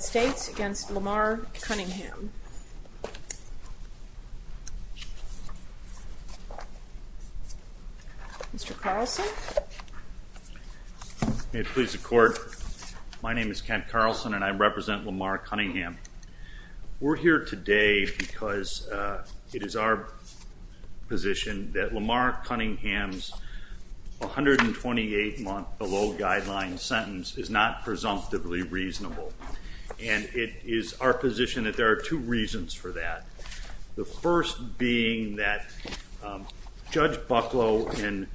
States v. Lamar Cunningham. Mr. Carlson. May it please the Court. My name is Kent Carlson and I represent Lamar Cunningham. We're here today because it is our position that Lamar Cunningham's criminal history guideline sentence is not presumptively reasonable. And it is our position that there are two reasons for that. The first being that Judge Bucklow in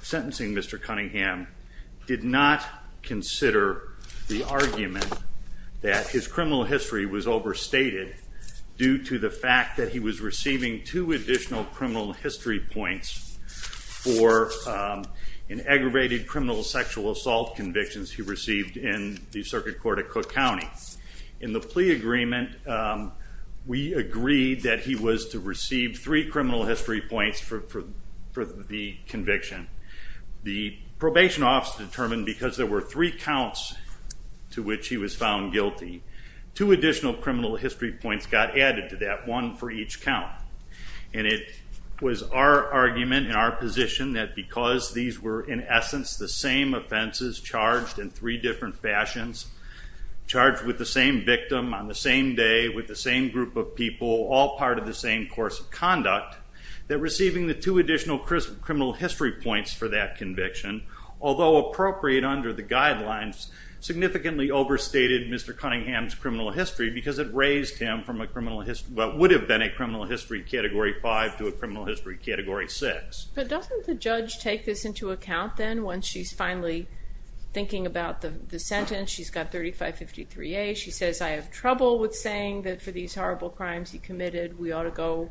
sentencing Mr. Cunningham did not consider the argument that his criminal history was overstated due to the fact that he was receiving two additional criminal history points for aggravated criminal sexual assault convictions he received in the Circuit Court of Cook County. In the plea agreement we agreed that he was to receive three criminal history points for the conviction. The probation office determined because there were three counts to which he was found guilty, two additional criminal history points got added to that, one for the fact that these were in essence the same offenses charged in three different fashions, charged with the same victim on the same day with the same group of people, all part of the same course of conduct, that receiving the two additional criminal history points for that conviction, although appropriate under the guidelines, significantly overstated Mr. Cunningham's criminal history because it raised him from what would have been a criminal history category 5 to a criminal history category 6. But doesn't the judge take this into account then once she's finally thinking about the sentence, she's got 3553A, she says I have trouble with saying that for these horrible crimes he committed we ought to go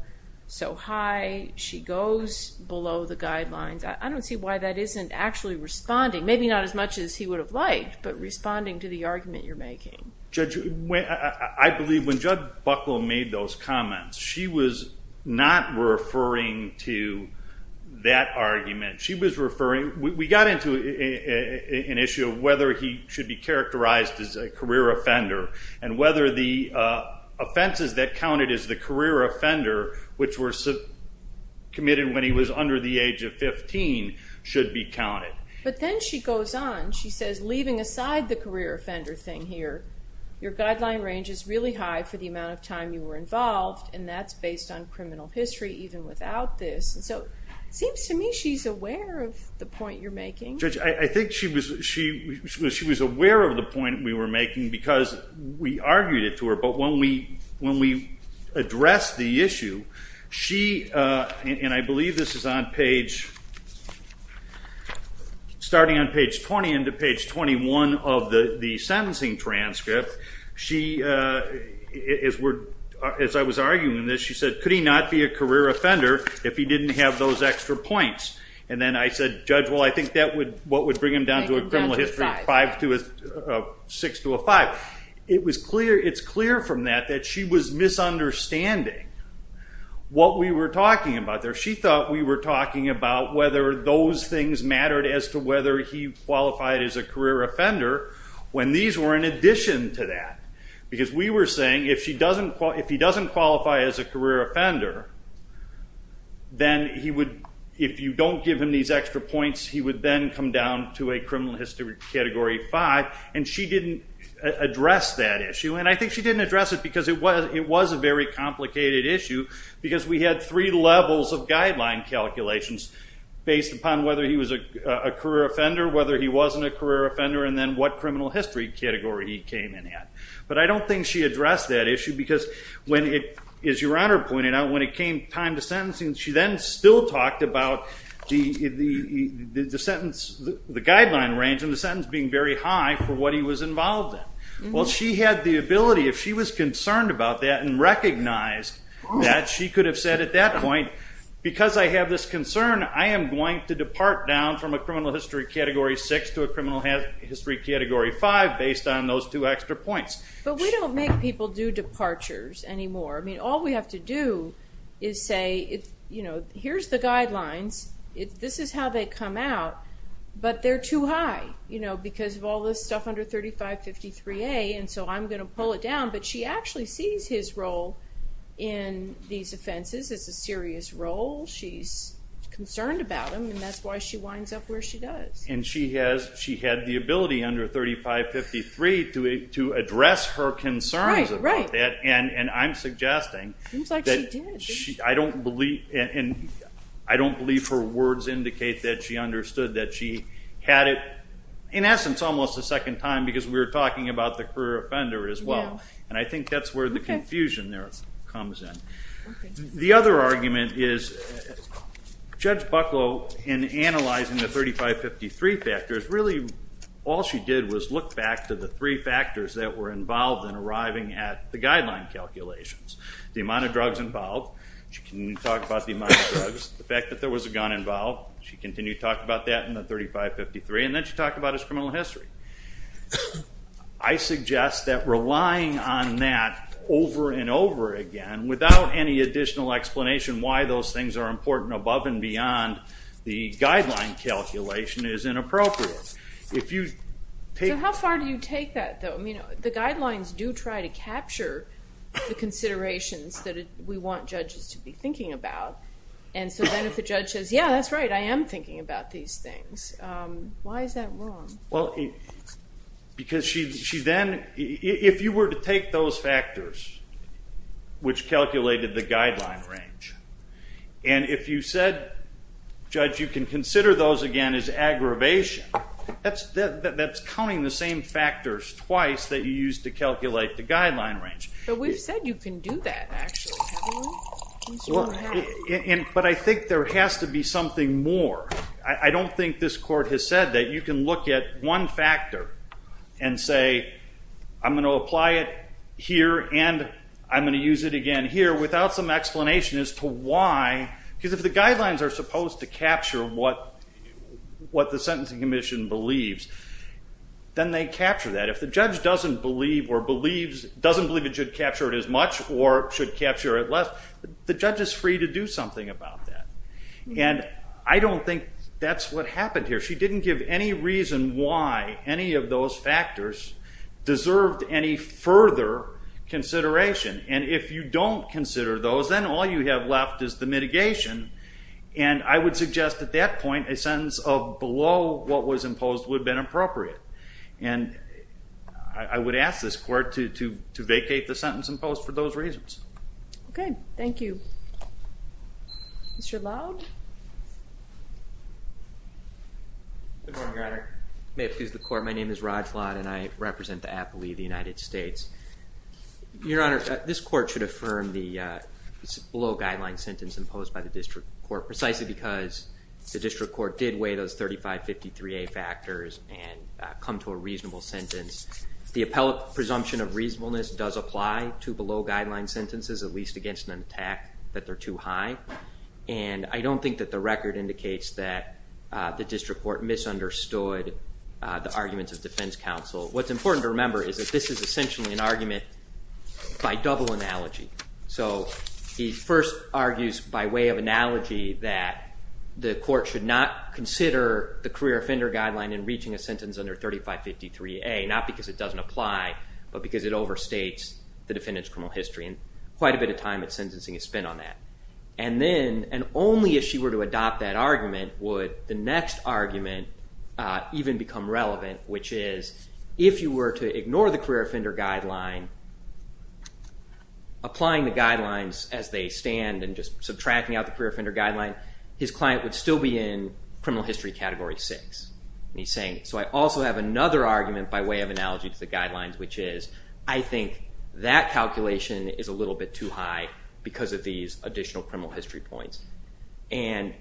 so high, she goes below the guidelines. I don't see why that isn't actually responding, maybe not as much as he would have liked, but responding to the argument you're making. Judge, I believe when Judge Bucklow made those comments she was not referring to the that argument, she was referring, we got into an issue of whether he should be characterized as a career offender and whether the offenses that counted as the career offender which were committed when he was under the age of 15 should be counted. But then she goes on, she says leaving aside the career offender thing here, your guideline range is really high for the amount of time you were involved and that's based on criminal history even without this. So it seems to me she's aware of the point you're making. Judge, I think she was aware of the point we were making because we argued it to her, but when we addressed the issue, she, and I believe this is on page, starting on page 20 into page 21 of the sentencing transcript, she, as I was arguing this, she said could he not be a career offender if he didn't have those extra points? And then I said, Judge, well I think that's what would bring him down to a criminal history of 6 to a 5. It's clear from that that she was misunderstanding what we were talking about there. She thought we were talking about whether those things mattered as to whether he qualified as a career offender when these were in addition to that. Because we were saying if he doesn't qualify as a career offender, then he would, if you don't give him these extra points, he would then come down to a criminal history category 5 and she didn't address that issue. And I think she didn't address it because it was a very complicated issue because we had three levels of guideline calculations based upon whether he was a career offender, whether he wasn't a career offender, and then what criminal history category he came in at. But I don't think she addressed that issue because when it, as your Honor pointed out, when it came time to sentencing, she then still talked about the sentence, the guideline range and the sentence being very high for what he was involved in. Well she had the ability, if she was concerned about that and recognized that, she could have said at that point, because I have this concern, I am going to depart down from a criminal history category 6 to a criminal history category 5 based on those two extra points. But we don't make people do departures anymore. All we have to do is say, here's the guidelines, this is how they come out, but they're too high because of all this stuff under 3553A and so I'm going to pull it down. But she actually sees his role in these offenses as a serious role. She's concerned about him and that's why she winds up where she does. And she had the ability under 3553 to address her concerns about that and I'm suggesting that I don't believe her words indicate that she understood that she had it, in essence, almost a second time because we were talking about the career offender as well. And I think that's where the confusion there comes in. The other argument is Judge Bucklow, in analyzing the 3553 factors, really all she did was look back to the three factors that were involved in arriving at the guideline calculations. The amount of drugs involved, she continued to talk about the amount of drugs, the fact that there was a gun involved, she continued to talk about that in the 3553 and then she talked about his criminal history. I suggest that relying on that over and over again without any additional explanation why those things are important above and beyond the guideline calculation is inappropriate. So how far do you take that though? The guidelines do try to capture the considerations that we want judges to be thinking about and so why is that wrong? Because she then, if you were to take those factors which calculated the guideline range and if you said, Judge, you can consider those again as aggravation, that's counting the same factors twice that you used to calculate the guideline range. But we've said you can do that actually, haven't we? But I think there has to be something more. I don't think this Court has said that you can look at one factor and say, I'm going to apply it here and I'm going to use it again here without some explanation as to why, because if the guidelines are supposed to capture what the Sentencing Commission believes, then they capture that. If the judge doesn't believe it should capture it as much or should capture it less, the judge is free to do something about that. And I don't think that's what happened here. She didn't give any reason why any of those factors deserved any further consideration. And if you don't consider those, then all you have left is the mitigation and I would suggest at that point a sentence of 6 to vacate the sentence imposed for those reasons. Okay, thank you. Mr. Loud? Good morning, Your Honor. May it please the Court, my name is Rod Flodd and I represent the appellee of the United States. Your Honor, this Court should affirm the low guideline sentence imposed by the District Court precisely because the District Court did weigh those and the assumption of reasonableness does apply to below guideline sentences, at least against an attack that they're too high. And I don't think that the record indicates that the District Court misunderstood the arguments of defense counsel. What's important to remember is that this is essentially an argument by double analogy. So he first argues by way of analogy that the Court should not consider the career offender guideline in reaching a sentence under 3553A, not because it doesn't apply, but because it overstates the defendant's criminal history and quite a bit of time at sentencing is spent on that. And then, and only if she were to adopt that argument would the next argument even become relevant, which is if you were to ignore the career offender guideline, applying the guidelines as they stand and just subtracting out the career offender guideline, his client would still be in criminal history category six. And he's saying, so I also have another argument by way of analogy to the guidelines, which is, I think that calculation is a little bit too high because of these additional criminal history points. And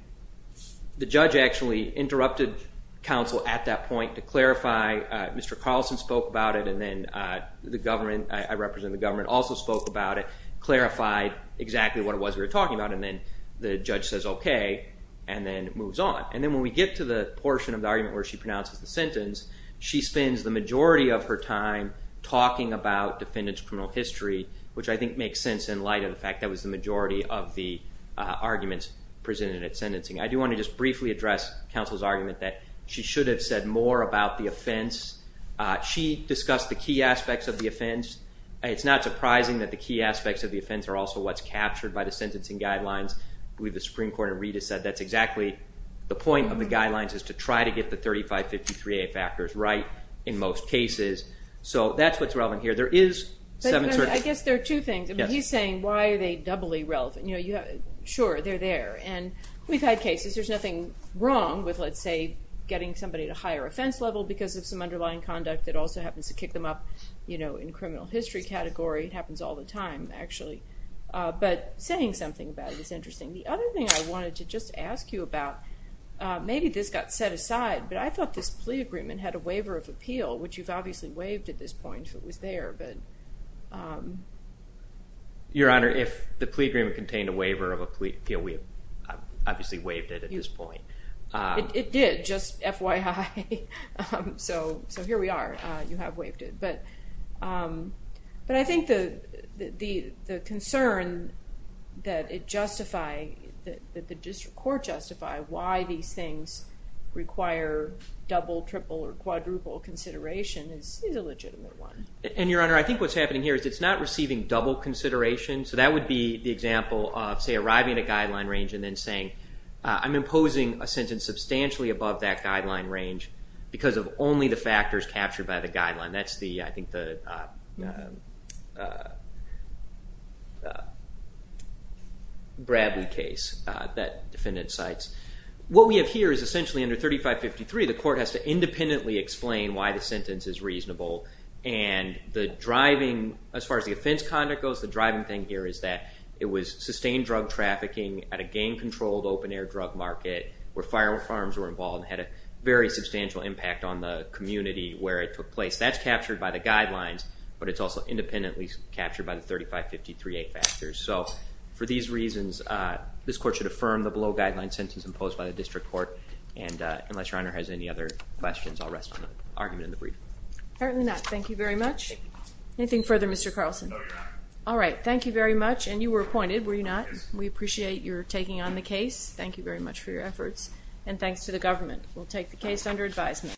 the judge actually interrupted counsel at that point to clarify. Mr. Carlson spoke about it and then the government, I represent the government, also spoke about it, clarified exactly what it was we were And then when we get to the portion of the argument where she pronounces the sentence, she spends the majority of her time talking about defendant's criminal history, which I think makes sense in light of the fact that was the majority of the arguments presented at sentencing. I do want to just briefly address counsel's argument that she should have said more about the offense. She discussed the key aspects of the offense. It's not surprising that the key aspects of the offense are also what's captured by the sentencing guidelines. I believe the Supreme Court in Reed has said that's exactly the point of the guidelines is to try to get the 3553A factors right in most cases. So that's what's relevant here. There is some uncertainty. I guess there are two things. He's saying, why are they doubly relevant? Sure, they're there. And we've had cases. There's nothing wrong with, let's say, getting somebody at a higher offense level because of some underlying conduct that also happens to kick them up in criminal history category. It happens all the time, actually. But saying something about it is interesting. The other thing I wanted to just ask you about, maybe this got set aside, but I thought this plea agreement had a waiver of appeal, which you've obviously waived at this point if it was there. Your Honor, if the plea agreement contained a waiver of appeal, we've obviously waived it at this point. It did, just FYI. So here we are. You have waived it. But I think the concern that it justify, that the District Court justify why these things require double, triple, or quadruple consideration is a legitimate one. And Your Honor, I think what's happening here is it's not receiving double consideration. So that would be the example of, say, arriving at a guideline range and then saying, I'm imposing a sentence substantially above that guideline range because of only the factors captured by the guideline. That's the, I think, the Bradley case that defendant cites. What we have here is essentially under 3553, the court has to independently explain why the sentence is reasonable. And the driving, as far as the offense conduct goes, the driving thing here is that it was sustained drug trafficking at a gang-controlled open-air drug market where firearms were involved and had a very substantial impact on the community where it took place. That's captured by the guidelines, but it's also independently captured by the 3553A factors. So for these reasons, this court should affirm the below-guideline sentence imposed by the District Court. And unless Your Honor has any other questions, I'll rest on the argument in the brief. Apparently not. Thank you very much. Anything further, Mr. Carlson? No, Your Honor. All right. Thank you very much. And you were appointed, were you not? Yes. We appreciate your taking on the case. Thank you very much for your efforts. And thanks to the government. We'll take the case under advisement.